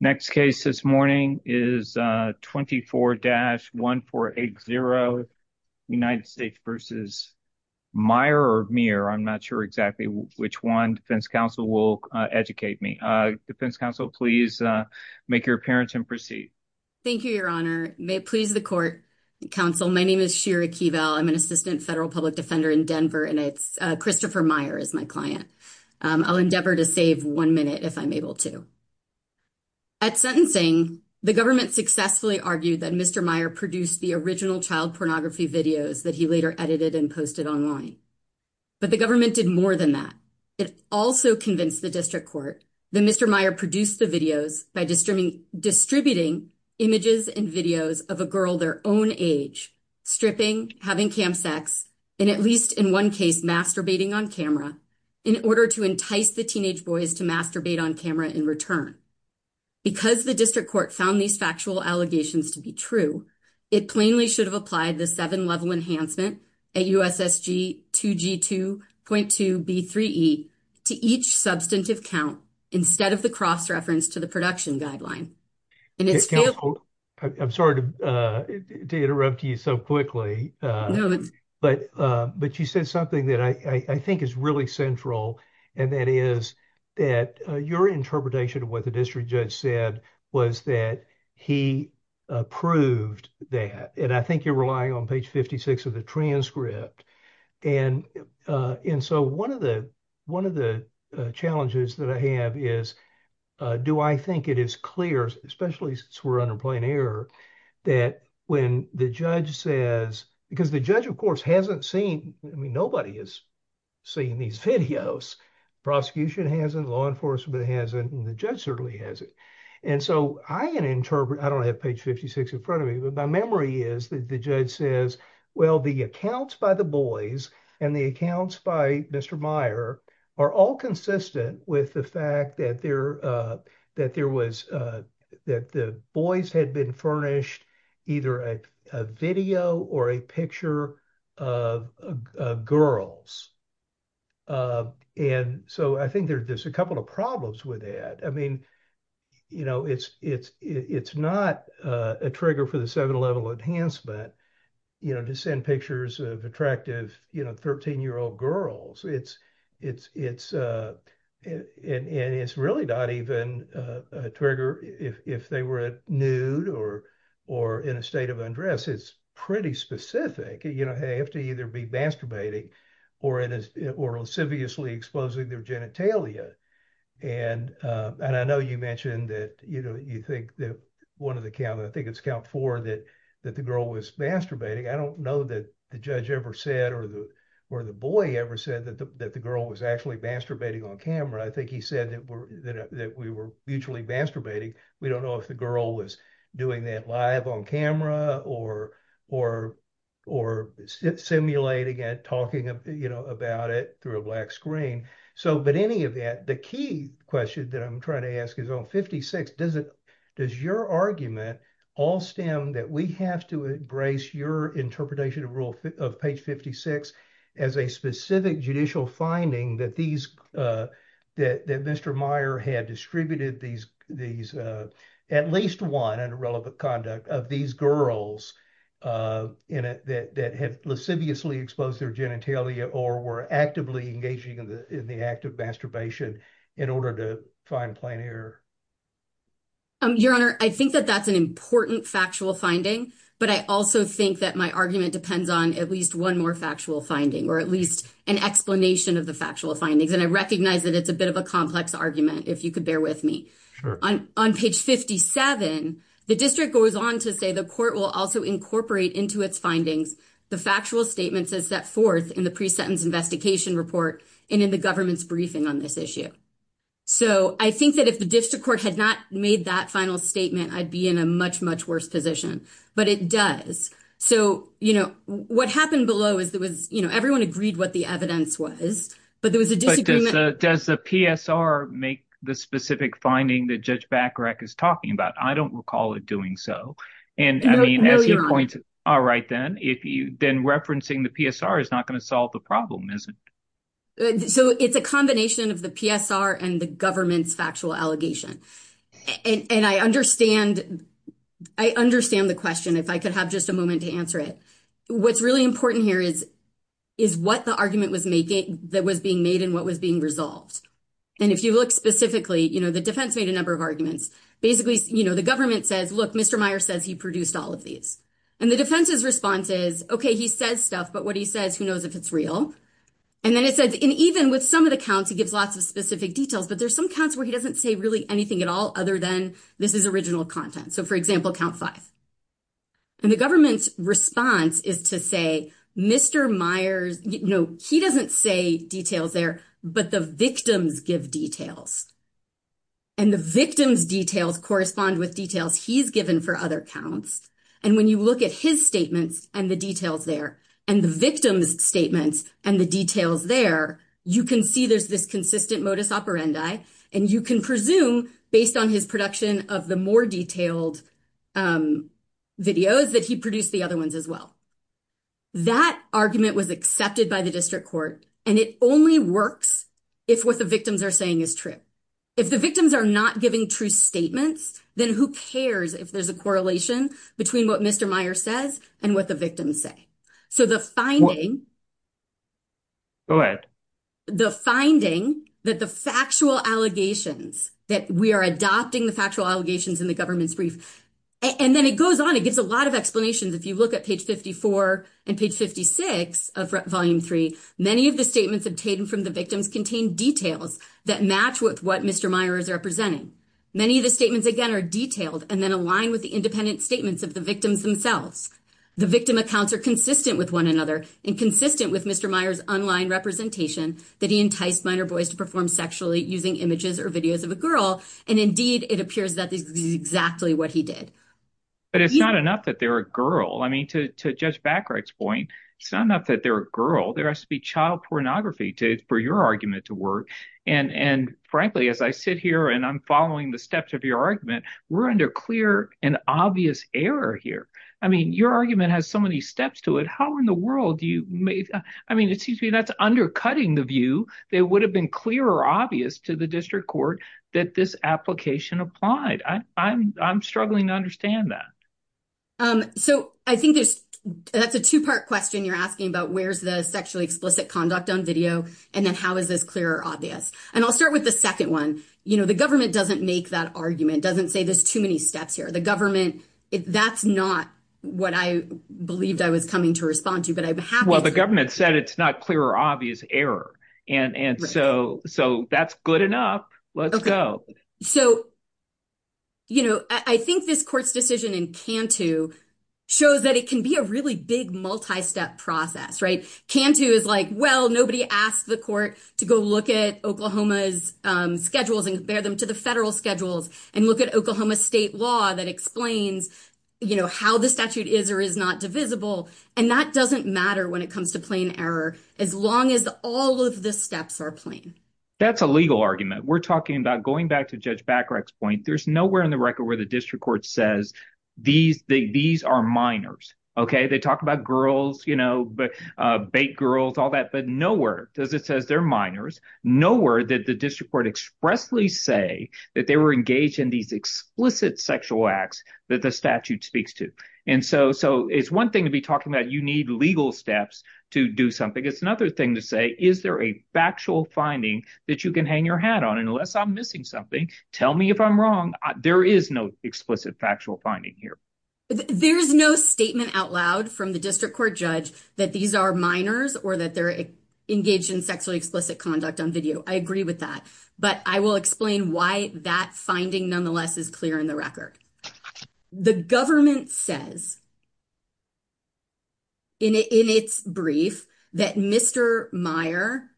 Next case this morning is 24-1480 United States v. Meier. I'm not sure exactly which one. Defense Counsel will educate me. Defense Counsel, please make your appearance and proceed. Thank you, Your Honor. May it please the court. Counsel, my name is Shira Keeval. I'm an assistant federal public defender in Denver and it's Christopher Meier is my client. I'll endeavor to save one minute if I'm able to. At sentencing, the government successfully argued that Mr. Meier produced the original child pornography videos that he later edited and posted online. But the government did more than that. It also convinced the district court that Mr. Meier produced the by distributing images and videos of a girl their own age, stripping, having cam sex, and at least in one case masturbating on camera in order to entice the teenage boys to masturbate on camera in return. Because the district court found these factual allegations to be true, it plainly should have applied the seven-level enhancement at USSG 2G2.2B3E to each substantive count instead of the reference to the production guideline. I'm sorry to interrupt you so quickly. But you said something that I think is really central and that is that your interpretation of what the district judge said was that he approved that. And I think you're relying on page 56 of the Do I think it is clear, especially since we're under plain air, that when the judge says... Because the judge, of course, hasn't seen... I mean, nobody has seen these videos. Prosecution hasn't, law enforcement hasn't, and the judge certainly hasn't. And so I can interpret... I don't have page 56 in front of me, but my memory is that the judge says, well, the accounts by the boys and the accounts by Mr. Meier are all consistent with the fact that that the boys had been furnished either a video or a picture of girls. And so I think there's a couple of problems with that. I mean, it's not a trigger for the seven-level enhancement to send pictures of attractive 13-year-old girls. And it's really not even a trigger if they were nude or in a state of undress. It's pretty specific. They have to either be masturbating or insidiously exposing their genitalia. And I know you mentioned that you think that one of the count, I think it's count four, that the girl was masturbating. I don't know that the judge ever said or the boy ever said that the girl was actually on camera. I think he said that we were mutually masturbating. We don't know if the girl was doing that live on camera or simulating it, talking about it through a black screen. So, but any of that, the key question that I'm trying to ask is on 56, does your argument all stem that we have to embrace your interpretation of rule of page 56 as a specific judicial finding that these, that Mr. Meyer had distributed these, at least one under relevant conduct, of these girls that had lasciviously exposed their genitalia or were actively engaging in the act of masturbation in order to find plain error? Your Honor, I think that that's an important factual finding, but I also think that my argument depends on at least one more factual finding, or at least an explanation of the factual findings. And I recognize that it's a bit of a complex argument, if you could bear with me. On page 57, the district goes on to say the court will also incorporate into its findings the factual statements as set forth in the pre-sentence investigation report and in the government's briefing on this issue. So I think that if the district court had not made that final statement, I'd be in a much, much worse position, but it does. So, you know, what happened below is there was, you know, everyone agreed what the evidence was, but there was a disagreement. Does the PSR make the specific finding that Judge Bacharach is talking about? I don't recall it doing so. And I mean, as you point, all right, then, if you then referencing the PSR is not going to solve the problem, is it? So it's a combination of the PSR and the government's factual allegation. And I understand the question, if I could have just a moment to answer it. What's really important here is what the argument was making that was being made and what was being resolved. And if you look specifically, you know, the defense made a number of arguments. Basically, you know, the government says, look, Mr. Meyer says he produced all of these. And the defense's response is, okay, he says stuff, but what he says, who knows if it's real? And then it says, and even with some of the counts, he gives lots of specific details, but there's some counts where he doesn't say really anything at all, other than this is original content. So for example, count five. And the government's response is to say, Mr. Meyer's, you know, he doesn't say details there, but the victims give details. And the victim's details correspond with details he's given for other counts. And when you look at his statements and the details there, and the victim's statements and the details there, you can see there's this consistent modus operandi. And you can presume based on his production of the more detailed videos that he produced the other ones as well. That argument was accepted by the district court, and it only works if what the victims are saying is true. If the victims are not giving true statements, then who cares if there's a correlation between what Mr. Meyer says and what the victims say. So the finding, the finding that the factual allegations, that we are adopting the factual allegations in the government's brief, and then it goes on, it gives a lot of explanations. If you look at page 54 and page 56 of Volume 3, many of the statements obtained from the victims contain details that match with what Mr. Meyer is representing. Many of the statements, again, are detailed and then align with the and consistent with Mr. Meyer's online representation that he enticed minor boys to perform sexually using images or videos of a girl. And indeed, it appears that this is exactly what he did. But it's not enough that they're a girl. I mean, to Judge Backright's point, it's not enough that they're a girl. There has to be child pornography for your argument to work. And frankly, as I sit here and I'm following the steps of your argument, we're under clear and obvious error here. I mean, your argument has so many steps to it. How in the world do you make, I mean, it seems to me that's undercutting the view that would have been clear or obvious to the district court that this application applied. I'm struggling to understand that. So I think there's, that's a two-part question you're asking about, where's the sexually explicit conduct on video? And then how is this clear or obvious? And I'll start with the second one. You know, the government doesn't make that argument, doesn't say there's too many steps here. The government, that's not what I believed I was coming to respond to, but I'm happy. Well, the government said it's not clear or obvious error. And so that's good enough. Let's go. So, you know, I think this court's decision in Cantu shows that it can be a really big multi-step process, right? Cantu is like, well, nobody asked the court to go look at Oklahoma's schedules and compare them to the federal schedules and look at Oklahoma state law that explains, you know, how the statute is or is not divisible. And that doesn't matter when it comes to plain error, as long as all of the steps are plain. That's a legal argument. We're talking about going back to Judge Bacharach's point. There's nowhere in the record where the district court says these, these are minors. Okay. They talk about girls, you know, bait girls, all that, but nowhere does it says they're minors. Nowhere did the district court expressly say that they were engaged in these explicit sexual acts that the statute speaks to. And so, so it's one thing to be talking about. You need legal steps to do something. It's another thing to say, is there a factual finding that you can hang your hat on? And unless I'm missing something, tell me if I'm wrong. There is no explicit factual finding here. There's no statement out loud from the district court judge that these are minors or that they're engaged in sexually explicit conduct on video. I agree with that, but I will explain why that finding nonetheless is clear in the record. The government says, in its brief, that Mr. Meyer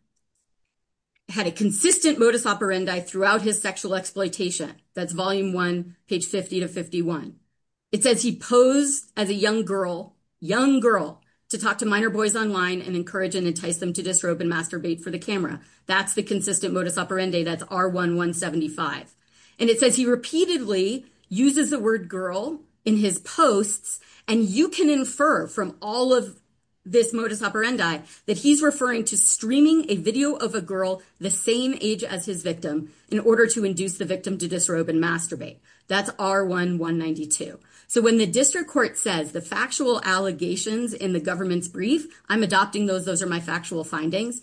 had a consistent modus operandi throughout his sexual exploitation. That's volume one, page 50 to 51. It says he posed as a young girl, young girl, to talk to minor boys online and encourage and entice them to disrobe and masturbate for the camera. That's the consistent modus operandi. That's R1-175. And it says he repeatedly uses the word girl in his posts. And you can infer from all of this modus operandi that he's referring to streaming a video of a girl the same age as his victim in order to induce the victim to disrobe and masturbate. That's R1-192. So when the district court says the factual allegations in the government's brief, I'm adopting those. Those are my factual findings.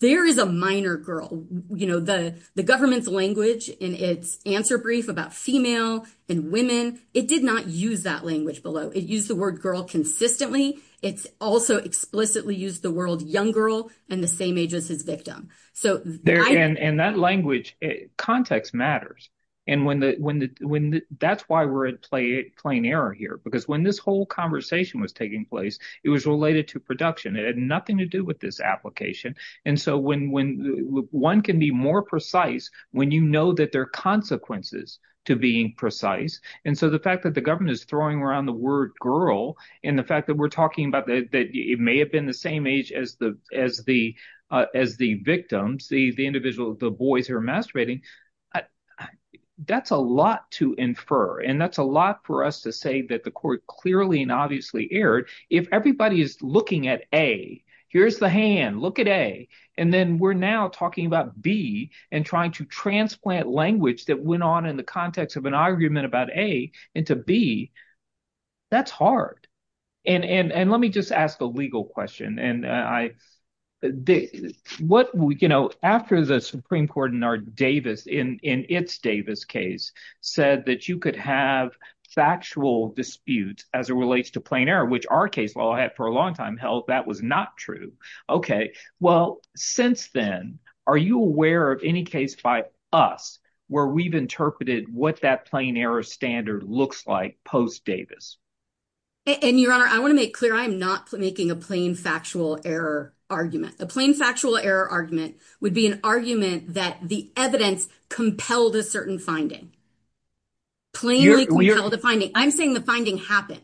There is a minor girl. The government's language in its answer brief about female and women, it did not use that language below. It used the word girl consistently. It also explicitly used the word young girl and the same age as his plain error here. Because when this whole conversation was taking place, it was related to production. It had nothing to do with this application. And so one can be more precise when you know that there are consequences to being precise. And so the fact that the government is throwing around the word girl and the fact that we're talking about that it may have been the same age as the victims, the boys who are masturbating, I, that's a lot to infer. And that's a lot for us to say that the court clearly and obviously erred. If everybody is looking at A, here's the hand, look at A, and then we're now talking about B and trying to transplant language that went on in the context of an argument about A into B, that's hard. And let me just ask a legal question. And I, what, you know, after the Supreme Court in our Davis, in its Davis case, said that you could have factual disputes as it relates to plain error, which our case law had for a long time held that was not true. Okay. Well, since then, are you aware of any case by us where we've interpreted what that plain error standard looks like post Davis? And Your Honor, I want to make clear, I'm not making a plain factual error argument. A plain factual error argument would be an argument that the evidence compelled a certain finding. Plainly compelled a finding. I'm saying the finding happened.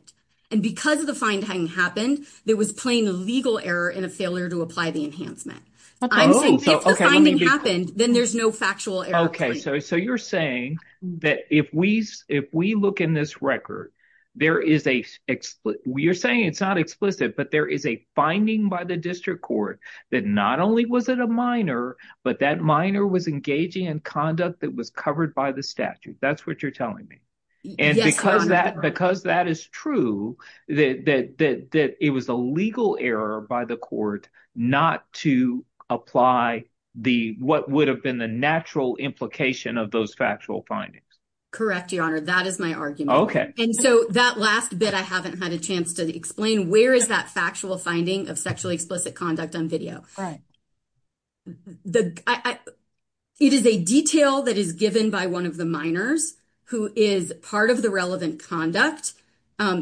And because the finding happened, there was plain legal error and a failure to apply the enhancement. If the finding happened, then there's no factual error. Okay. So you're saying that if we look in this record, there is a, you're saying it's not explicit, but there is a finding by the district court that not only was it a minor, but that minor was engaging in conduct that was covered by the statute. That's what you're telling me. And because that is true, that it was a legal error by the court not to apply the, what would have been the natural implication of those factual findings? Correct. Your Honor, that is my argument. Okay. And so that last bit, I haven't had a chance to explain where is that factual finding of sexually explicit conduct on video? It is a detail that is given by one of the minors who is part of the relevant conduct,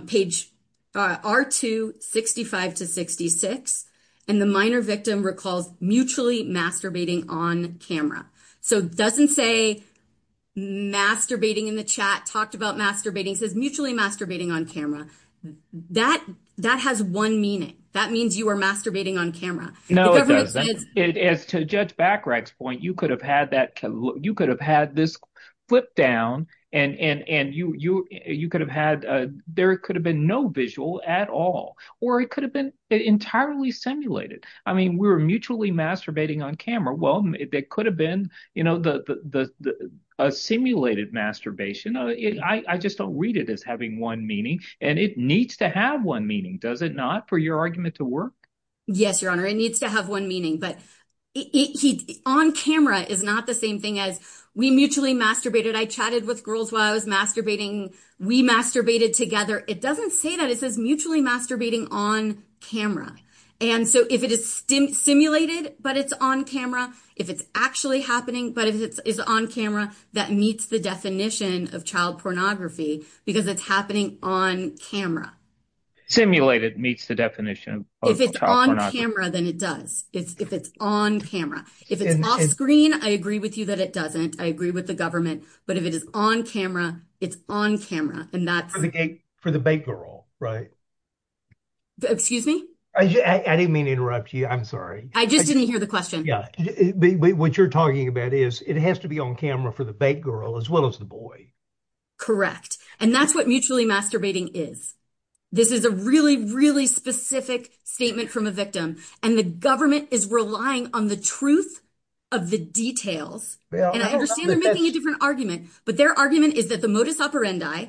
page R2, 65 to 66. And the minor victim recalls mutually masturbating on camera. So doesn't say masturbating in the chat, talked about masturbating, says mutually masturbating on camera. That, that has one meaning. That means you were masturbating on camera. No, it doesn't. As to Judge Bachrach's point, you could have had that, you could have had this flip down and, and, and you, you, you could have had, there could have been no visual at all, or it could have been entirely simulated. I mean, we were mutually masturbating on camera. Well, it could have been, you know, the, the, the, a simulated masturbation. I, I just don't read it as having one meaning and it needs to have one meaning. Does it not for your argument to work? Yes, Your Honor. It needs to have one meaning, but it, he, on camera is not the same thing as we mutually masturbated. I chatted with girls while I was masturbating. We masturbated together. It doesn't say that it says mutually masturbating on camera. And so if it is stim simulated, but it's on camera, if it's actually happening, but if it is on camera, that meets the definition of child pornography, because it's happening on camera. Simulated meets the definition. If it's on camera, then it does. It's, if it's on camera, if it's off screen, I agree with you that it doesn't, I agree with the government, but if it is on camera, it's on camera. And that's for the big girl, right? Excuse me? I didn't mean to interrupt you. I'm sorry. I just didn't hear the question. What you're talking about is it has to be on camera for the big girl as well as the boy. Correct. And that's what mutually masturbating is. This is a really, really specific statement from a victim. And the government is relying on the truth of the details. And I understand they're making a different argument, but their argument is that the modus operandi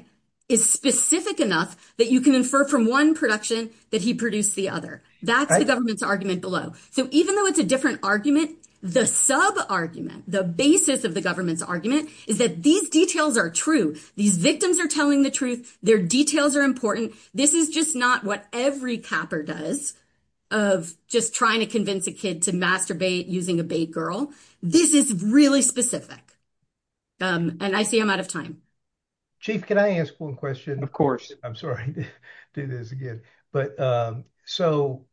is specific enough that you can infer from one production that he produced the other. That's the government's argument below. So even though it's a different argument, the sub argument, the basis of the government's argument is that these details are true. These victims are telling the truth. Their details are important. This is just not what every capper does of just trying to convince a kid to masturbate using a big girl. This is really specific. And I see I'm out of time. Chief, can I ask one question? Of course. I'm sorry to do this again. So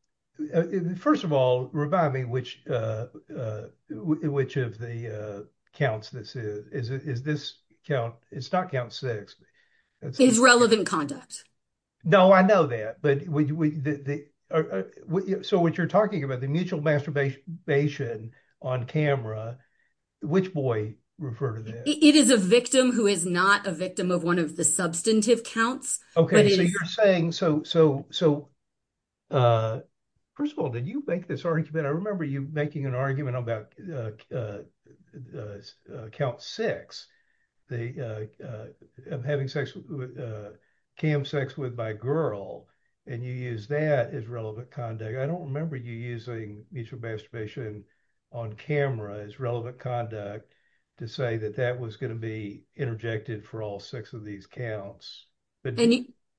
first of all, remind me which of the counts this is. Is this count? It's not count six. It's relevant conduct. No, I know that. So what you're talking about, the mutual masturbation on camera, which boy refer to that? It is a victim who is not a victim of one of the substantive counts. Okay. So you're saying, so first of all, did you make this argument? I remember you making an argument about count six, of having sex, cam sex with my girl, and you use that as relevant conduct. I don't remember you using mutual masturbation on camera as relevant conduct to say that that was going to be interjected for all six of these counts.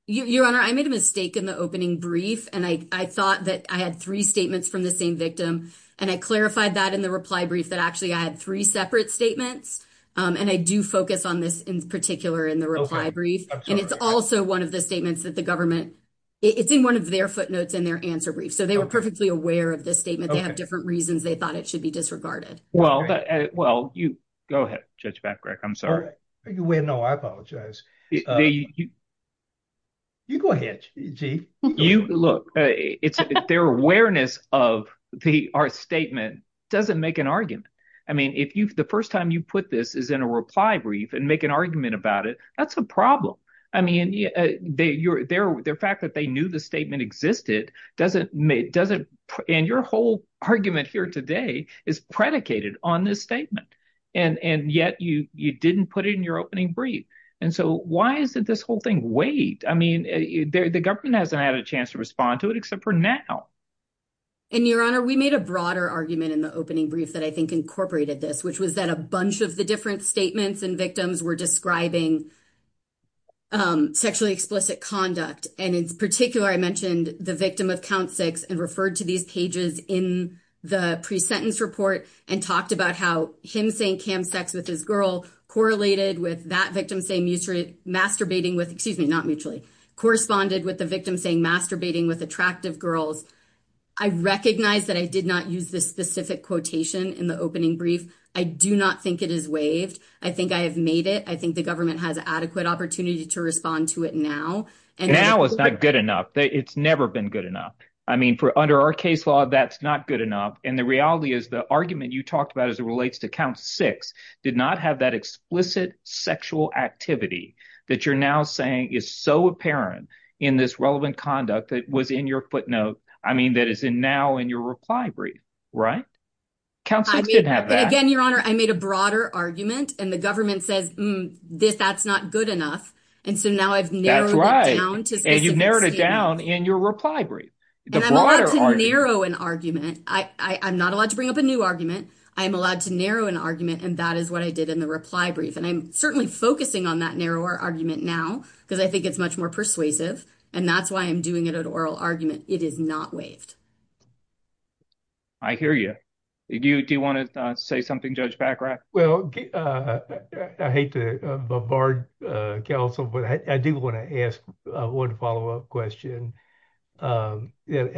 Your Honor, I made a mistake in the opening brief. And I thought that I had three statements from the same victim. And I clarified that in the reply brief that actually I had three separate statements. And I do focus on this in particular in the reply brief. And it's also one of the statements that the government, it's in one of their footnotes in their answer brief. So they were perfectly aware of this statement. They have different reasons. They thought it should be disregarded. Well, you go ahead, Judge Babcock. I'm sorry. No, I apologize. You go ahead, Chief. Look, it's their awareness of our statement doesn't make an argument. I mean, if the first time you put this is in a reply brief and make an argument about it, that's a problem. I mean, the fact that they knew the statement existed doesn't, and your whole argument here today is predicated on this statement. And yet you didn't put it in your opening brief. And so why is it this whole thing? Wait, I mean, the government hasn't had a chance to respond to it except for now. And Your Honor, we made a broader argument in the opening brief that I think incorporated this, which was that a bunch of the different statements and victims were describing sexually explicit conduct. And in particular, I mentioned the victim of count six and referred to these pages in the pre-sentence report and talked about how him saying cam sex with his girl correlated with that victim saying masturbating with, excuse me, not mutually, corresponded with the victim saying masturbating with attractive girls. I recognize that I did not use this specific quotation in the opening brief. I do not think it is waived. I think I have made it. I think the government has adequate opportunity to respond to it now. And now it's not good enough. It's never been good enough. I mean, for under our case law, that's not good enough. And the reality is the argument you talked about as it relates to count six did not have that explicit sexual activity that you're now saying is so apparent in this relevant conduct that was in your footnote. I mean, that is in now in your reply brief, right? Council didn't have that. Again, Your Honor, I made a broader argument and the government says this, that's not good enough. And so now I've narrowed it down. And you've narrowed it down in your reply brief. And I'm allowed to narrow an argument. I'm not allowed to bring up a new argument. I'm allowed to narrow an argument. And that is what I did in the reply brief. And I'm certainly focusing on that narrower argument now because I think it's much more persuasive. And that's why I'm doing it at oral argument. It is not waived. I hear you. Do you want to say something, Judge Baccarat? Well, I hate to bombard counsel, but I do want to ask one follow-up question. I think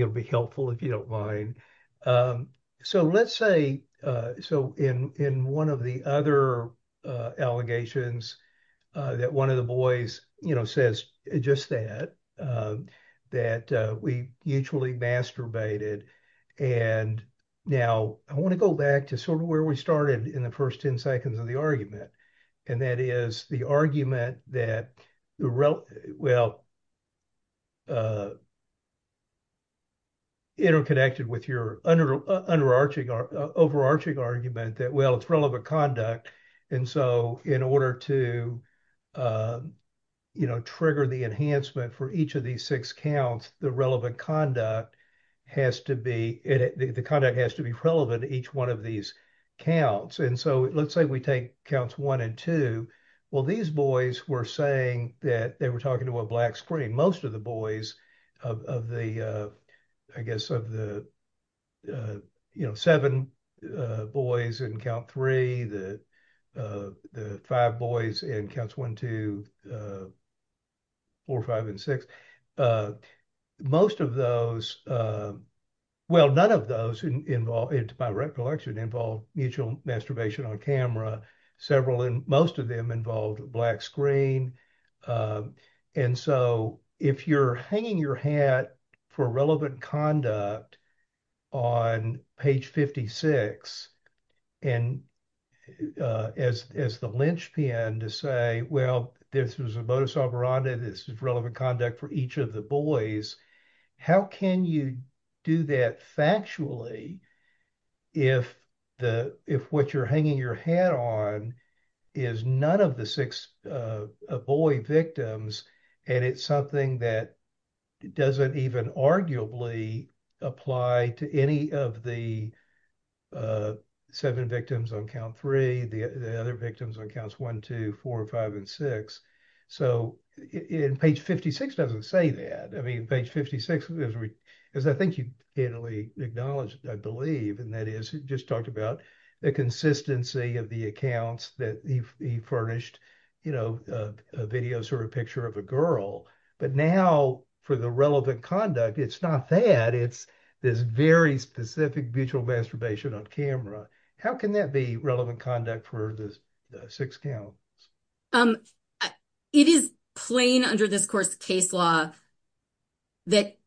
it'd be helpful if you don't mind. So let's say, so in one of the other allegations that one of the boys says just that, that we mutually masturbated. And now I want to go back to sort of where we started in the first 10 seconds of the argument. And that is the argument that, well, interconnected with your overarching argument that, well, it's relevant conduct. And so in order to trigger the enhancement for each of these six counts, the relevant conduct has to be, the conduct has to be relevant to each one of these counts. And so let's say we take counts one and two. Well, these boys were saying that they were talking to a black screen. Most of the boys of the, I guess of the seven boys in count three, the five boys in counts one, two, four, five, and six. Most of those, well, none of those by recollection involve mutual masturbation on camera. Most of them involved black screen. And so if you're hanging your hat for relevant conduct on page 56, and as the linchpin to say, well, this was a modus operandi, this is relevant conduct for each of the boys. How can you do that factually if what you're hanging your hat on is none of the six boy victims and it's something that doesn't even arguably apply to any of the seven victims on count three, the other victims on counts one, two, four, five, and six. So in page 56, it doesn't say that. I mean, page 56, as I think you can only acknowledge, I believe, and that is just talked about the consistency of the accounts that he furnished, you know, a video sort of picture of a girl. But now for the relevant conduct, it's not that. It's this very specific mutual masturbation on camera. How can that be relevant conduct for the six boys? It is plain under this course case law that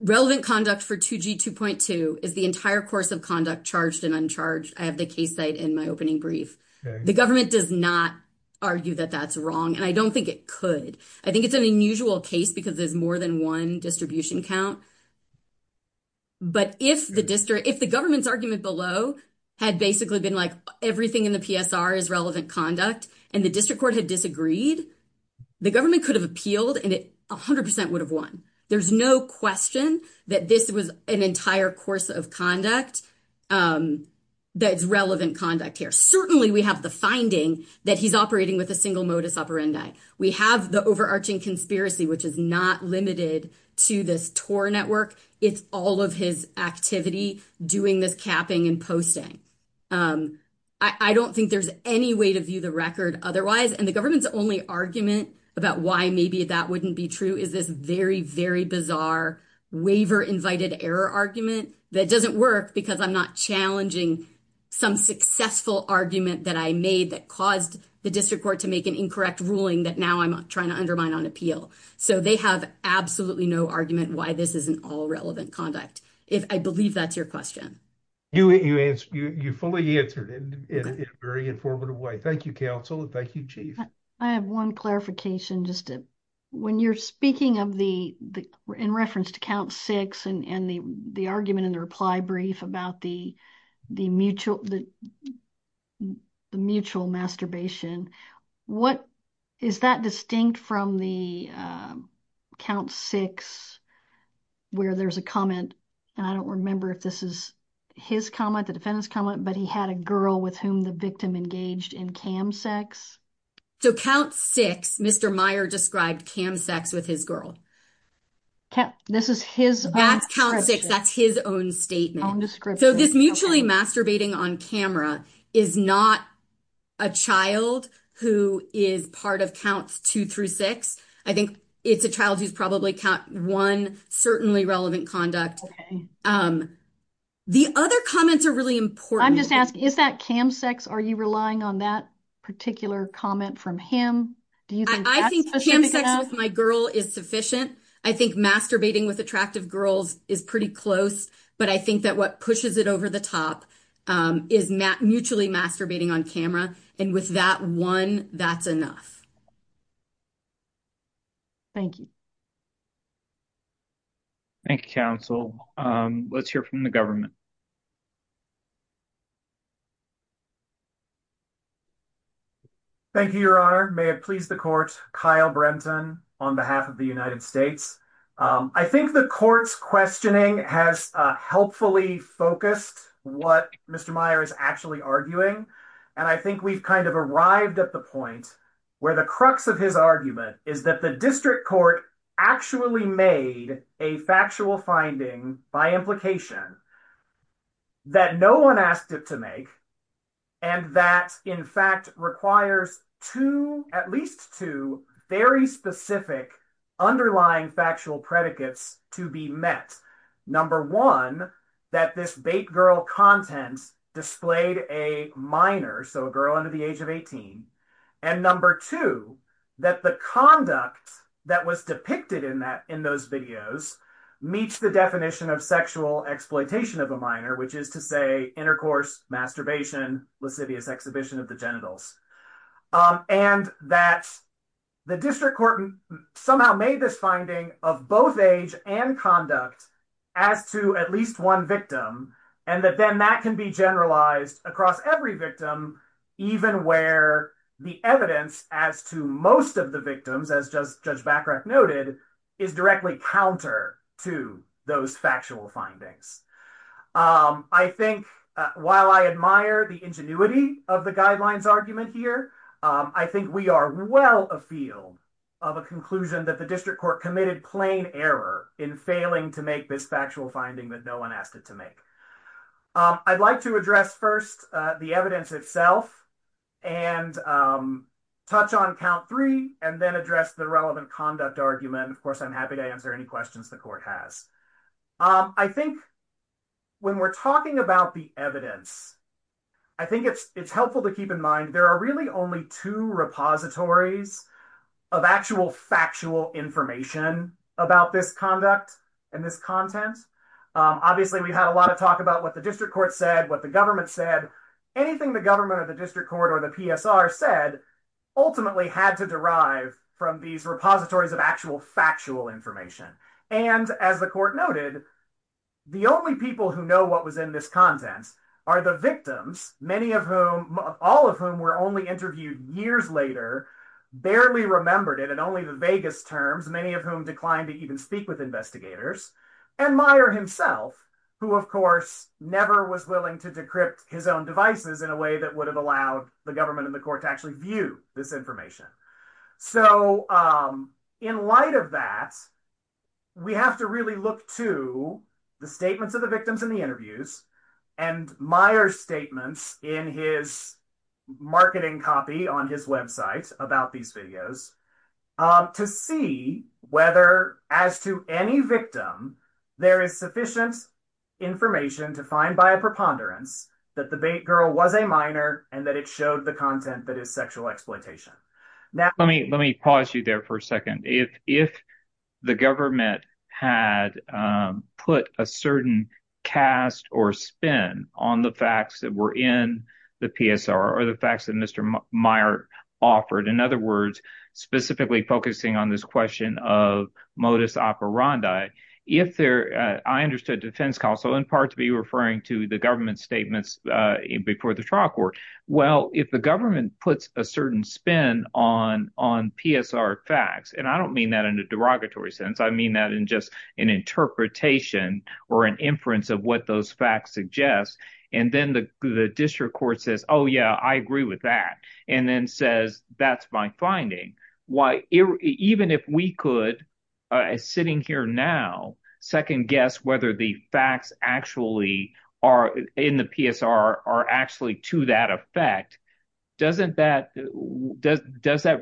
relevant conduct for 2G2.2 is the entire course of conduct charged and uncharged. I have the case site in my opening brief. The government does not argue that that's wrong, and I don't think it could. I think it's an unusual case because there's more than one distribution count. But if the government's argument below had basically been like everything in the PSR is relevant conduct and the district court had disagreed, the government could have appealed and it 100 percent would have won. There's no question that this was an entire course of conduct that's relevant conduct here. Certainly we have the finding that he's operating with a single modus operandi. We have the overarching conspiracy, which is not limited to this Tor network. It's all of his activity doing this capping and posting. I don't think there's any way to view the record otherwise. The government's only argument about why maybe that wouldn't be true is this very, very bizarre waiver invited error argument that doesn't work because I'm not challenging some successful argument that I made that caused the district court to make an incorrect ruling that now I'm trying to undermine on appeal. They have absolutely no argument why this isn't all relevant conduct. I believe that's your question. You fully answered it in a very informative way. Thank you, counsel, and thank you, chief. I have one clarification. When you're speaking in reference to count six and the argument in the reply brief about the mutual masturbation, is that distinct from the count six where there's a comment, and I don't remember if this is his comment, the defendant's comment, but he had a girl with whom the victim engaged in cam sex? So count six, Mr. Meyer described cam sex with his girl. This is his- That's count six. That's his own statement. So this mutually masturbating on camera is not a child who is part of counts two through six. I think it's a child who's probably count one certainly relevant conduct. The other comments are really important. I'm just asking, is that cam sex? Are you relying on that particular comment from him? Do you think that's- I think cam sex with my girl is sufficient. I think masturbating with attractive girls is pretty close, but I think that what pushes it over the top is mutually masturbating on camera, and with that one, that's enough. Thank you. Thank you, counsel. Let's hear from the government. Thank you, your honor. May it please the court, Kyle Brenton on behalf of the United States. I think the court's questioning has helpfully focused what Mr. Meyer is actually arguing, and I think we've kind of arrived at the point where the crux of his argument is that the district court actually made a factual finding by implication that no one asked it to make, and that in fact requires two, at least two, very specific underlying factual predicates to be met. Number one, that this bait girl content displayed a minor, so a girl under the age of 18, and number two, that the conduct that was depicted in that in those videos meets the definition of sexual exploitation of a minor, which is to say intercourse, masturbation, lascivious exhibition of the genitals, and that the district court somehow made this finding of both age and conduct as to at least one victim, and that then that can be generalized across every victim, even where the evidence as to most of the victims, as Judge Bachrach noted, is directly counter to those factual findings. I think, while I admire the ingenuity of the guidelines argument here, I think we are well afield of a conclusion that the district court committed plain error in failing to make this factual finding that no one asked it to make. I'd like to address first the evidence itself and touch on count three and then address the relevant conduct argument. Of course, I'm happy to answer any questions the court has. I think when we're talking about the evidence, I think it's helpful to keep in mind there are only two repositories of actual factual information about this conduct and this content. Obviously, we've had a lot of talk about what the district court said, what the government said. Anything the government or the district court or the PSR said ultimately had to derive from these repositories of actual factual information. And, as the court noted, the only people who know what was in this content are the victims, all of whom were only interviewed years later, barely remembered it in only the vaguest terms, many of whom declined to even speak with investigators, and Meyer himself, who, of course, never was willing to decrypt his own devices in a way that would have allowed the government and the court to actually view this information. So, in light of that, we have to really look to the statements of the victims in the interviews and Meyer's statements in his marketing copy on his website about these videos to see whether, as to any victim, there is sufficient information to find by a preponderance that the girl was a minor and that it showed the content that is sexual exploitation. Let me pause you there for a second. If the government had put a certain cast or spin on the facts that were in the PSR or the facts that Mr. Meyer offered, in other words, specifically focusing on this question of modus operandi, I understood defense counsel in part to be referring to the government's statements before the trial court. Well, if the government puts a certain spin on PSR facts—and I don't mean that in a derogatory sense, I mean that in just an interpretation or an inference of what those facts suggest—and then the district court says, oh, yeah, I agree with that, and then says, that's my finding, even if we could, sitting here now, second-guess whether the facts in the PSR are actually to that effect, doesn't that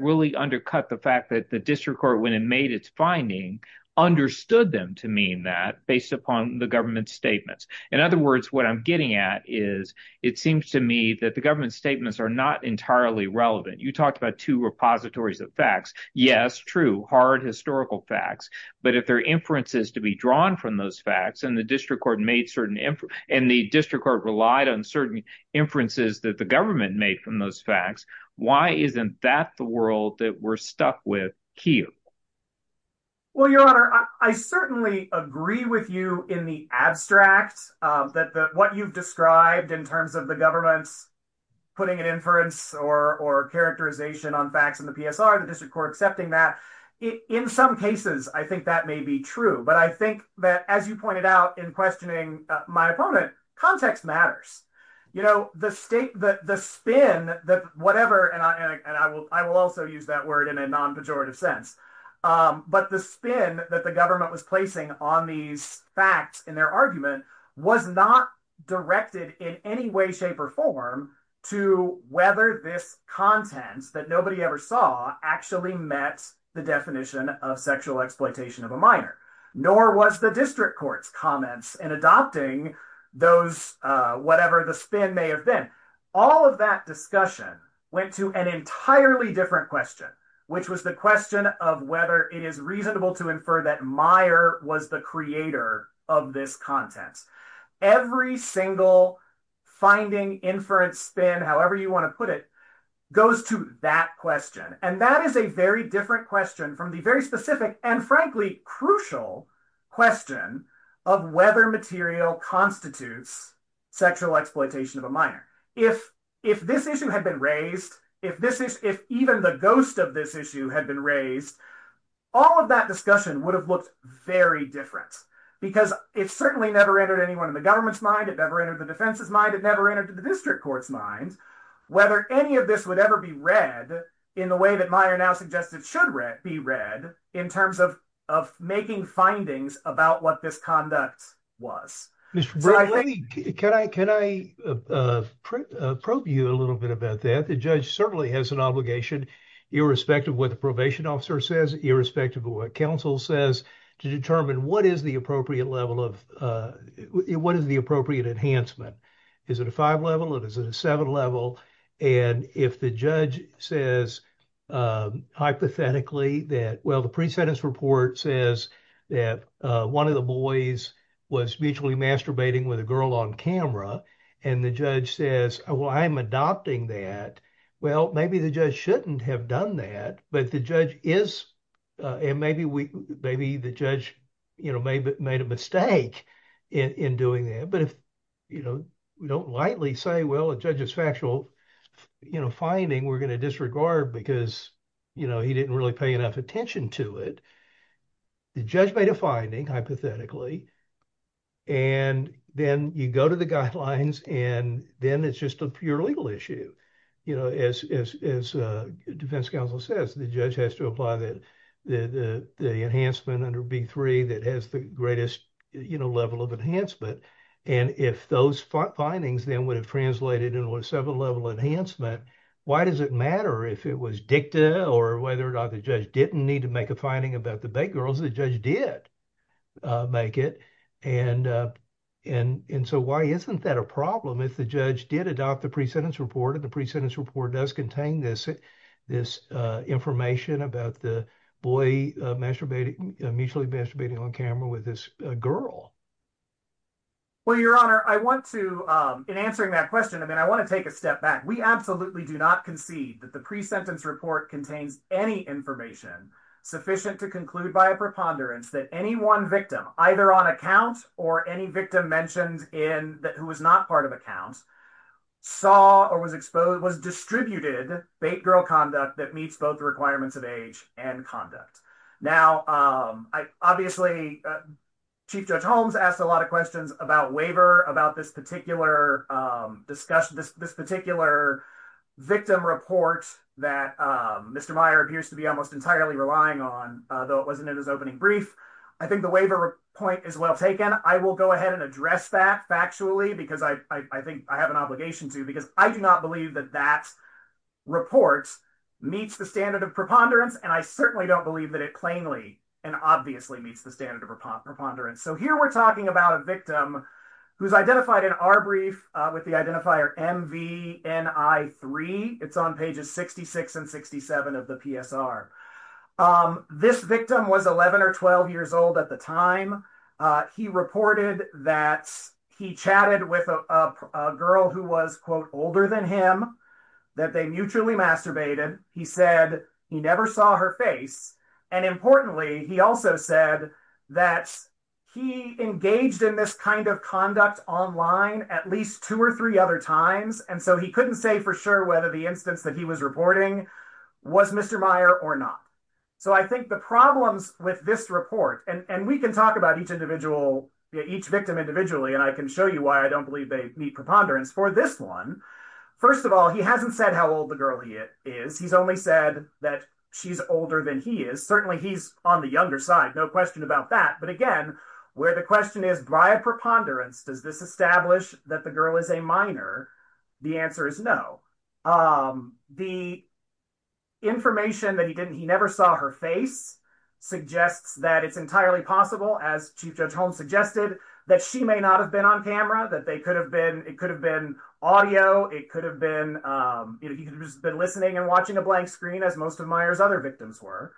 really undercut the fact that the district court, when it made its finding, understood them to mean that based upon the government's statements? In other words, what I'm getting at is it seems to me that the government's statements are not entirely relevant. You talked about two repositories of facts. Yes, true, hard historical facts, but if there are inferences to be drawn from those facts and the district court relied on certain inferences that the government made from those facts, why isn't that the world that we're stuck with here? Well, your honor, I certainly agree with you in the abstract that what you've described in terms of the government's putting an inference or characterization on facts in the PSR, the district court accepting that. In some cases, I think that may be true, but I think that, you pointed out in questioning my opponent, context matters. The state, the spin, whatever, I will also use that word in a non-pejorative sense, but the spin that the government was placing on these facts in their argument was not directed in any way, shape, or form to whether this content that nobody ever saw actually met the definition of sexual exploitation of a minor, nor was the district court's comments in adopting those, whatever the spin may have been. All of that discussion went to an entirely different question, which was the question of whether it is reasonable to infer that Meyer was the creator of this content. Every single finding inference spin, however you want to put it, goes to that question, and that is a very different question from the very specific and frankly crucial question of whether material constitutes sexual exploitation of a minor. If this issue had been raised, if even the ghost of this issue had been raised, all of that discussion would have looked very different, because it certainly never entered anyone in the government's mind, it never entered the defense's mind, it never entered the district court's mind, whether any of this would ever be read in the way that Meyer now suggested should be read in terms of making findings about what this conduct was. Mr. Braley, can I probe you a little bit about that? The judge certainly has an obligation, irrespective of what the probation officer says, irrespective of what counsel says, to determine what is the appropriate level of, what is the appropriate enhancement. Is it a that, well, the pre-sentence report says that one of the boys was mutually masturbating with a girl on camera, and the judge says, well, I'm adopting that. Well, maybe the judge shouldn't have done that, but the judge is, and maybe the judge made a mistake in doing that. But if we don't lightly say, well, a judge's factual finding we're going to disregard because he didn't really pay enough attention to it, the judge made a finding, hypothetically, and then you go to the guidelines, and then it's just a pure legal issue. As defense counsel says, the judge has to apply the enhancement under B-3 that has the greatest level of enhancement, and if those findings then would have translated into a seven-level enhancement, why does it matter if it was dicta or whether or not the judge didn't need to make a finding about the big girls? The judge did make it, and so why isn't that a problem if the judge did adopt the pre-sentence report, and the pre-sentence report does contain this information about the boy mutually masturbating on camera with this girl? Well, Your Honor, I want to, in answering that question, I mean, I want to take a step back. We absolutely do not concede that the pre-sentence report contains any information sufficient to conclude by a preponderance that any one victim, either on account or any victim mentioned who was not part of account, saw or was exposed, was distributed bait girl conduct that meets both the requirements of age and conduct. Now, obviously, Chief Judge Holmes asked a lot of questions about waiver, about this particular discussion, this particular victim report that Mr. Meyer appears to be almost entirely relying on, though it wasn't in his opening brief. I think the waiver point is well taken. I will go ahead and address that factually because I think I have an obligation to, because I do not believe that that report meets the standard of preponderance, and I certainly don't believe that it plainly and obviously meets the standard of preponderance. So here we're talking about a victim who's identified in our brief with the identifier MVNI3. It's on pages 66 and 67 of the PSR. This victim was 11 or 12 years old at the time. He reported that he chatted with a girl who was, quote, older than him, that they mutually masturbated. He said he never saw her face, and importantly, he also said that he engaged in this kind of conduct online at least two or three other times, and so he couldn't say for sure whether the instance that he was reporting was Mr. Meyer or not. So I think the problems with this report, and we can talk about each individual, each victim individually, and I can show you why I don't believe they meet preponderance for this one. First of all, he hasn't said how old the girl is. He's only said that she's older than he is. Certainly he's on the younger side, no question about that, but again, where the question is, by a preponderance, does this establish that the girl is a minor? The answer is no. The information that he didn't, he never saw her face, suggests that it's entirely possible, as Chief Judge Holmes suggested, that she may not have been on camera, that they could have been, it could have been audio, it could have been, you know, he could have just been listening and a blank screen as most of Meyer's other victims were,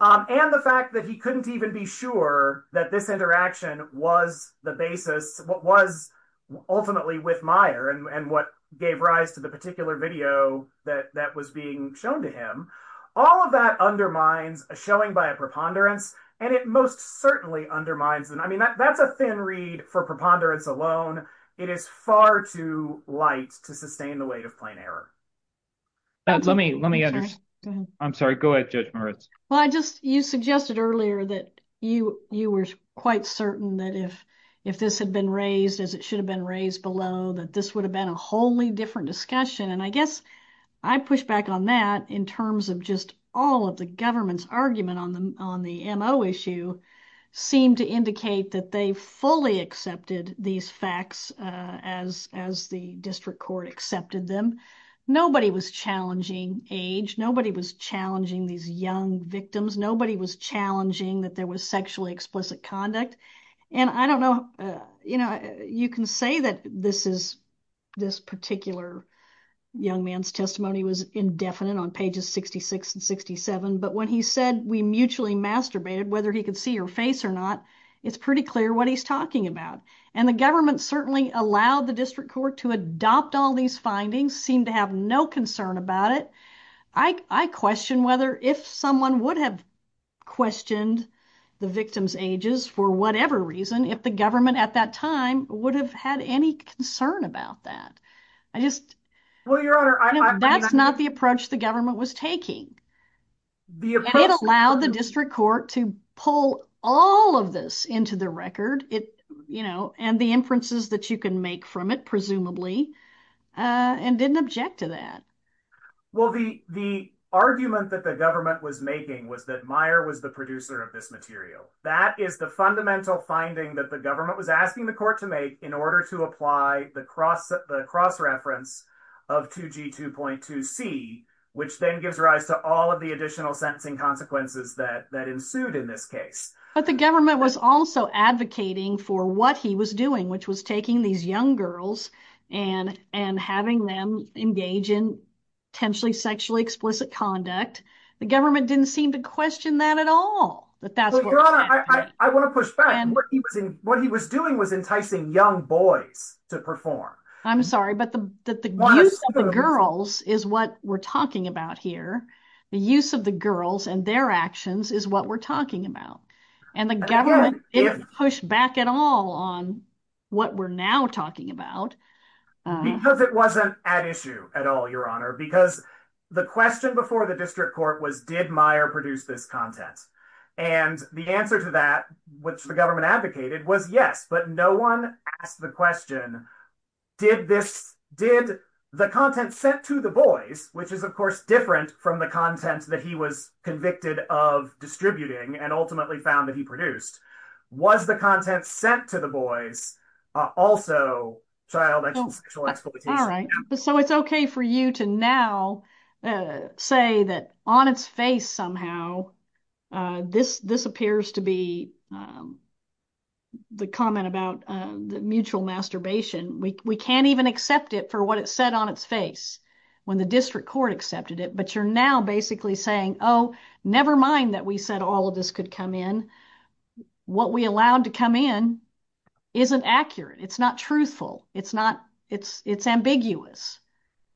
and the fact that he couldn't even be sure that this interaction was the basis, what was ultimately with Meyer and what gave rise to the particular video that was being shown to him, all of that undermines a showing by a preponderance, and it most certainly undermines, I mean, that's a thin reed for preponderance alone. It is far too light to sustain the weight of plain error. Let me, let me, I'm sorry, go ahead, Judge Moritz. Well, I just, you suggested earlier that you, you were quite certain that if, if this had been raised as it should have been raised below, that this would have been a wholly different discussion, and I guess I push back on that in terms of just all of the government's argument on the, MO issue seemed to indicate that they fully accepted these facts as, as the district court accepted them. Nobody was challenging age, nobody was challenging these young victims, nobody was challenging that there was sexually explicit conduct, and I don't know, you know, you can say that this is, this particular young man's testimony was indefinite on pages 66 and 67, but when he said we mutually masturbated, whether he could see your face or not, it's pretty clear what he's talking about, and the government certainly allowed the district court to adopt all these findings, seemed to have no concern about it. I, I question whether, if someone would have questioned the victims' ages for whatever reason, if the government at that time would have had any concern about that. I just... Well, Your Honor, I... That's not the approach the government was taking. It allowed the district court to pull all of this into the record, it, you know, and the inferences that you can make from it, presumably, and didn't object to that. Well, the, the argument that the government was making was that Meyer was the producer of this material. That is the fundamental finding that the government was asking the court to make in order to apply the cross, the cross-reference of 2G2.2C, which then gives rise to all of the additional sentencing consequences that, that ensued in this case. But the government was also advocating for what he was doing, which was taking these young girls and, and having them engage in potentially sexually explicit conduct. The government didn't seem to question that at all, that that's what was happening. What he was doing was enticing young boys to perform. I'm sorry, but the, that the use of the girls is what we're talking about here. The use of the girls and their actions is what we're talking about. And the government didn't push back at all on what we're now talking about. Because it wasn't at issue at all, Your Honor, because the question before the district court was, did Meyer produce this content? And the answer to that, which the government advocated, was yes, but no one asked the question, did this, did the content sent to the boys, which is of course different from the content that he was convicted of distributing and ultimately found that he produced, was the content sent to the boys also child sexual exploitation? So it's okay for you to now say that on its face somehow, this, this appears to be the comment about the mutual masturbation. We can't even accept it for what it said on its face when the district court accepted it, but you're now basically saying, oh, nevermind that we said all of this could come in. What we allowed to come in isn't accurate. It's not truthful. It's not, it's, it's ambiguous.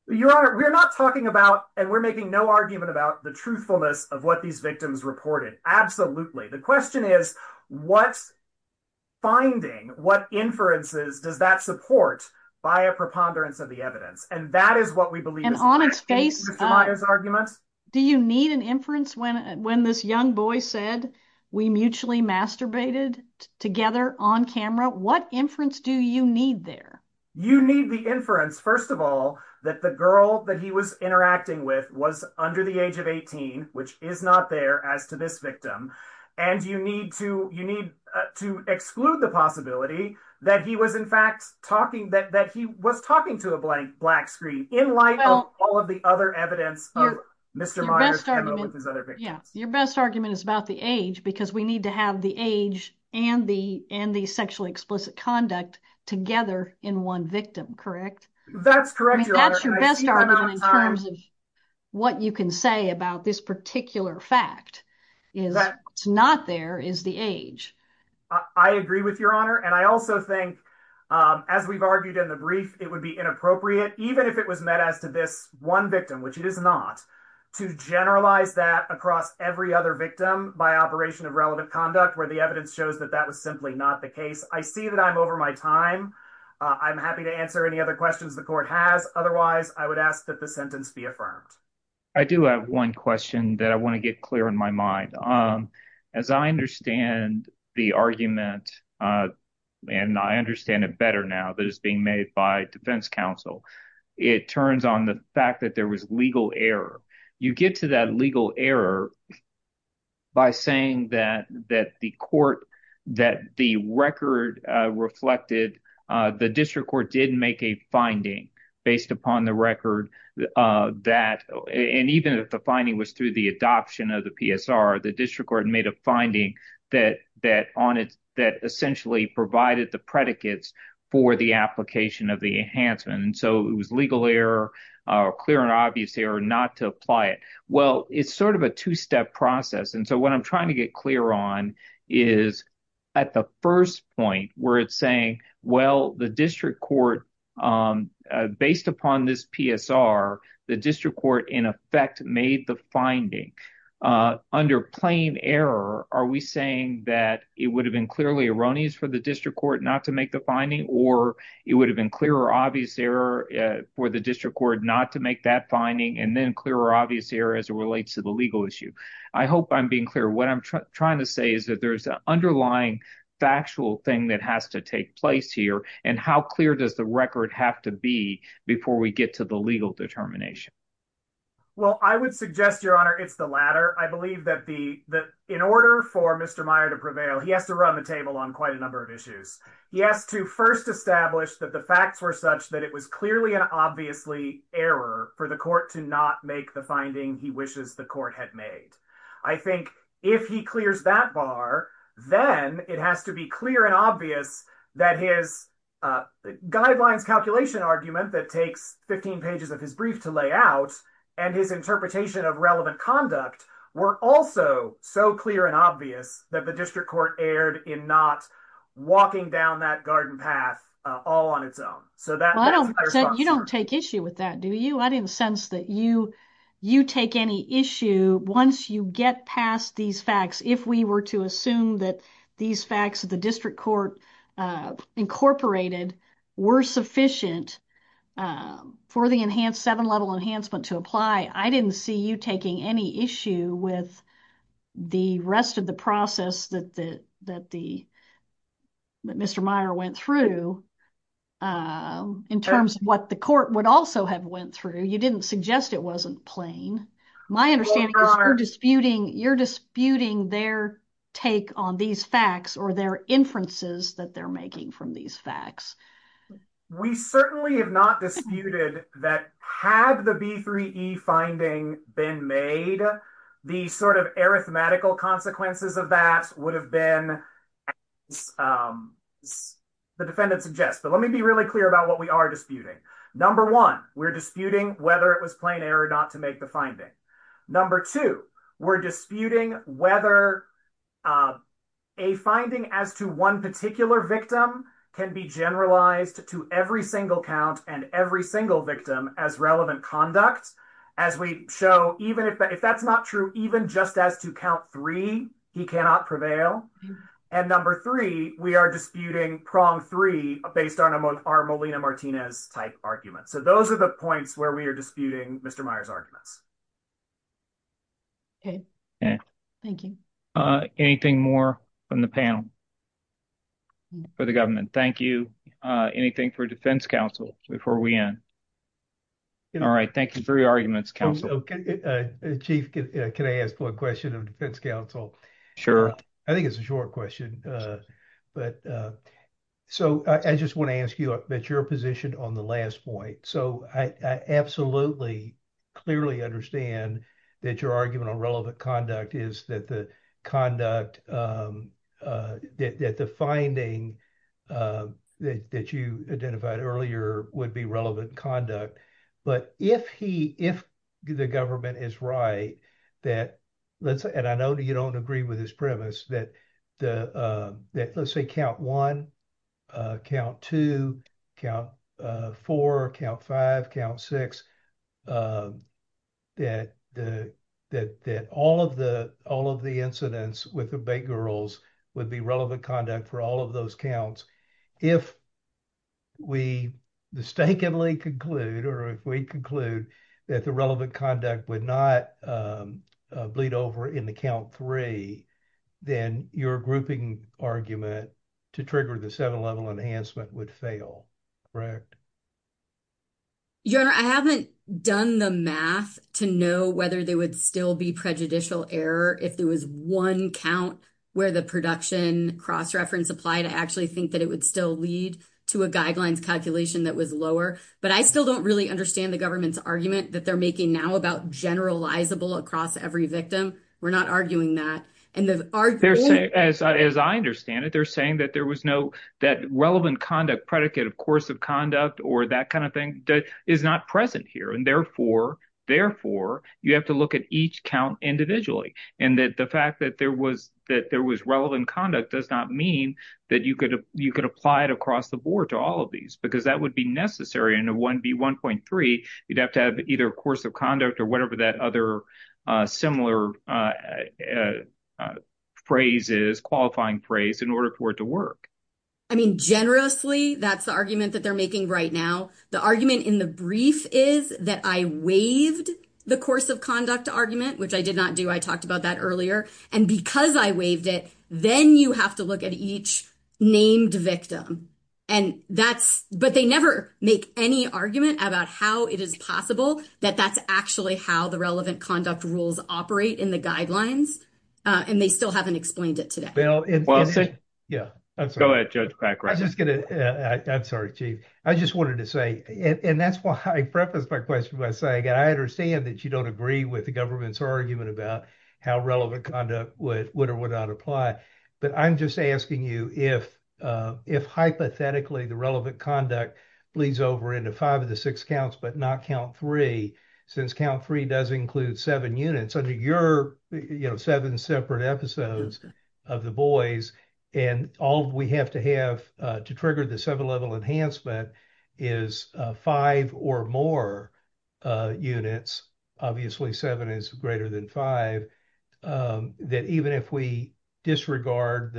Your Honor, we're not talking about, and we're making no argument about the truthfulness of what these victims reported. Absolutely. The question is what's finding, what inferences does that support by a preponderance of the evidence? And that is what we believe. Do you need an inference when, when this young boy said we mutually masturbated together on camera, what inference do you need there? You need the inference, first of all, that the girl that he was interacting with was under the age of 18, which is not there as to this victim. And you need to, you need to exclude the possibility that he was in fact talking that, that he was talking to a blank black screen in light of all of the other evidence of Mr. Meyers. Yeah. Your best argument is about the age because we need to have the age and the, and the sexually explicit conduct together in one victim, correct? That's correct. That's your best argument in terms of what you can say about this particular fact is that it's not there is the age. I agree with your Honor. And I also think, as we've argued in the brief, it would be inappropriate, even if it was met as to this one victim, which it is not, to generalize that across every other victim by operation of relevant conduct where the evidence shows that that was simply not the case. I see that I'm over my time. I'm happy to answer any other questions the court has. Otherwise I would ask that the sentence be affirmed. I do have one question that I want to get clear in my mind. As I understand the argument and I understand it better now that it's being made by defense counsel, it turns on the fact that there was legal error. You get to that legal error by saying that, that the court, that the record reflected, the district court did make a finding based upon the record that, and even if the finding was through the adoption of the PSR, the district court made a finding that, that on it, that essentially provided the predicates for the application of the enhancement. And so it was legal error or clear and obvious error not to apply it. Well, it's sort of a two-step process. And so what I'm trying to get clear on is at the first point where it's saying, well, the district court, based upon this PSR, the district court in effect made the finding. Under plain error, are we saying that it would have been clearly erroneous for the district court not to make the finding or it would have been clear or obvious error for the district court not to make that finding and then clear or obvious error as it relates to the legal issue? I hope I'm being clear. What I'm trying to say is that there's an underlying factual thing that has to take place here. And how clear does the record have to be before we get to the legal determination? Well, I would suggest, Your Honor, it's the latter. I believe that the, that in order for Mr. Meyer to prevail, he has to run the table on quite a such that it was clearly and obviously error for the court to not make the finding he wishes the court had made. I think if he clears that bar, then it has to be clear and obvious that his guidelines calculation argument that takes 15 pages of his brief to lay out and his interpretation of relevant conduct were also so clear and obvious that the district court erred in not walking down that garden path all on its own. So that's my response. You don't take issue with that, do you? I didn't sense that you take any issue once you get past these facts. If we were to assume that these facts of the district court incorporated were sufficient for the enhanced seven-level enhancement to apply, I didn't see you taking any issue with the rest of the process that the that Mr. Meyer went through in terms of what the court would also have went through. You didn't suggest it wasn't plain. My understanding is you're disputing, you're disputing their take on these facts or their inferences that they're making from these facts. We certainly have not disputed that had the B3E finding been made, the sort of arithmetical consequences of that would have been as the defendant suggests. But let me be really clear about what we are disputing. Number one, we're disputing whether it was plain error not to make the finding. Number two, we're disputing whether a finding as to one particular victim can be generalized to every single count and every single victim as relevant conduct. As we show, even if that's not true, even just as to count three, he cannot prevail. And number three, we are disputing prong three based on our Molina-Martinez type arguments. So those are the points where we are disputing Mr. Meyer's arguments. Okay, thank you. Anything more from the panel for the government? Thank you. Anything for defense counsel before we end? All right, thank you for your arguments, counsel. Chief, can I ask one question of defense counsel? Sure. I think it's a short question. But so I just want to ask you that you're positioned on the last point. So I absolutely clearly understand that your argument on relevant conduct is that the conduct, that the finding that you identified earlier would be relevant conduct. But if the government is right, that let's say, and I know that you don't agree with his premise, that let's say count one, count two, count four, count five, count six, that all of the incidents with the counts, if we mistakenly conclude or if we conclude that the relevant conduct would not bleed over in the count three, then your grouping argument to trigger the seven-level enhancement would fail, correct? Your Honor, I haven't done the math to know whether there would still be prejudicial error if there was one count where the production cross-reference applied. I actually think that it would still lead to a guidelines calculation that was lower. But I still don't really understand the government's argument that they're making now about generalizable across every victim. We're not arguing that. As I understand it, they're saying that there was no, that relevant conduct predicate of course of conduct or that kind of thing is not present here. And therefore, you have to look at each count individually. And that the fact that there was relevant conduct does not mean that you could apply it across the board to all of these, because that would be necessary in a 1B1.3. You'd have to have either course of conduct or whatever that other similar phrase is, qualifying phrase, in order for it to work. I mean, generously, that's the argument that they're making right now. The argument in the and because I waived it, then you have to look at each named victim. And that's, but they never make any argument about how it is possible that that's actually how the relevant conduct rules operate in the guidelines. And they still haven't explained it today. Yeah, I'm sorry. I'm sorry, Chief. I just wanted to say, and that's why I preface my question by I understand that you don't agree with the government's argument about how relevant conduct would or would not apply. But I'm just asking you if hypothetically the relevant conduct bleeds over into five of the six counts, but not count three, since count three does include seven units under your, you know, seven separate episodes of the boys. And all we have to have to trigger the seven level enhancement is five or more units, obviously seven is greater than five, that even if we disregard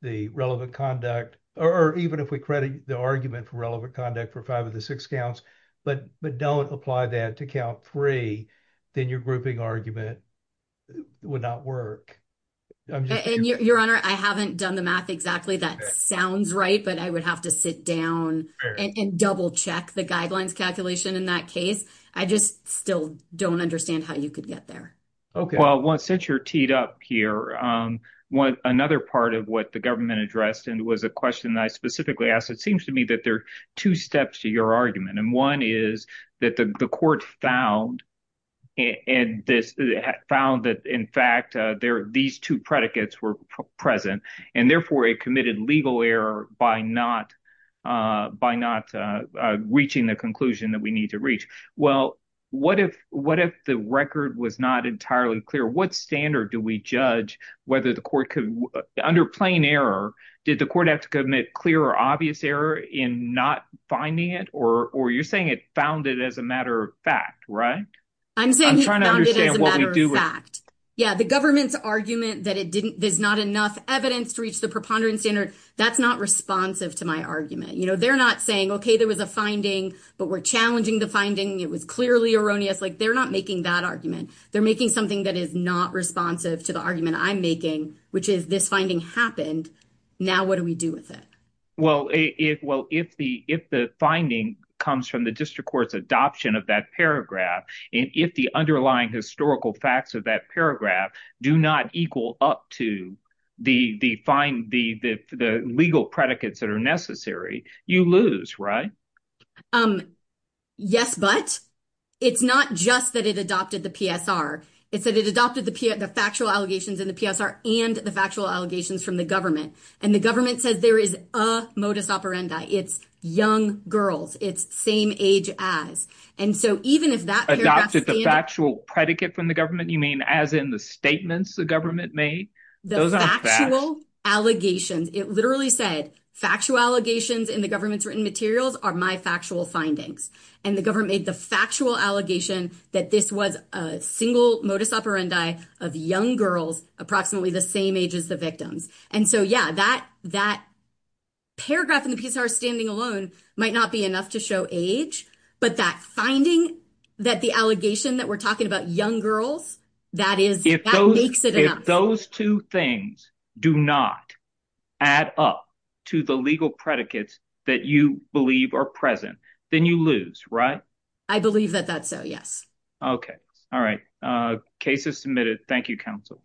the relevant conduct, or even if we credit the argument for relevant conduct for five of the six counts, but don't apply that to count three, then your grouping argument would not work. And your honor, I haven't done the math exactly that sounds right, I would have to sit down and double check the guidelines calculation in that case. I just still don't understand how you could get there. Okay, well, once since you're teed up here, one another part of what the government addressed, and was a question that I specifically asked, it seems to me that there are two steps to your argument. And one is that the court found, and this found that in fact, these two predicates were present, and therefore it committed legal error by not reaching the conclusion that we need to reach. Well, what if the record was not entirely clear? What standard do we judge whether the court could, under plain error, did the court have to commit clear or obvious error in not finding it? Or you're saying it found it as a matter of fact, right? I'm saying, yeah, the government's argument that it didn't, there's not enough evidence to reach the preponderance standard. That's not responsive to my argument. You know, they're not saying, okay, there was a finding, but we're challenging the finding, it was clearly erroneous, like, they're not making that argument. They're making something that is not responsive to the argument I'm making, which is this finding happened. Now, what do we do with it? Well, if well, if the if the finding comes from the district court's adoption of that paragraph, and if the underlying historical facts of that paragraph do not equal up to the legal predicates that are necessary, you lose, right? Yes, but it's not just that it adopted the PSR. It's that it adopted the factual allegations in the PSR and the factual allegations from the government. And the government says there is a modus operandi, it's young girls, it's same age as. And so even if that adopted the factual predicate from the government, you mean, as in the statements the government made, the factual allegations, it literally said, factual allegations in the government's written materials are my factual findings. And the government made the factual allegation that this was a single modus operandi of young girls, approximately the same age as the victims. And so yeah, that that paragraph in the PSR standing alone might not be enough to show age, but that finding that the allegation that we're talking about young girls, that is, those two things do not add up to the legal predicates that you believe are present, then you lose, right? I believe that that's so yes. Okay. All right. Cases submitted. Thank you, counsel.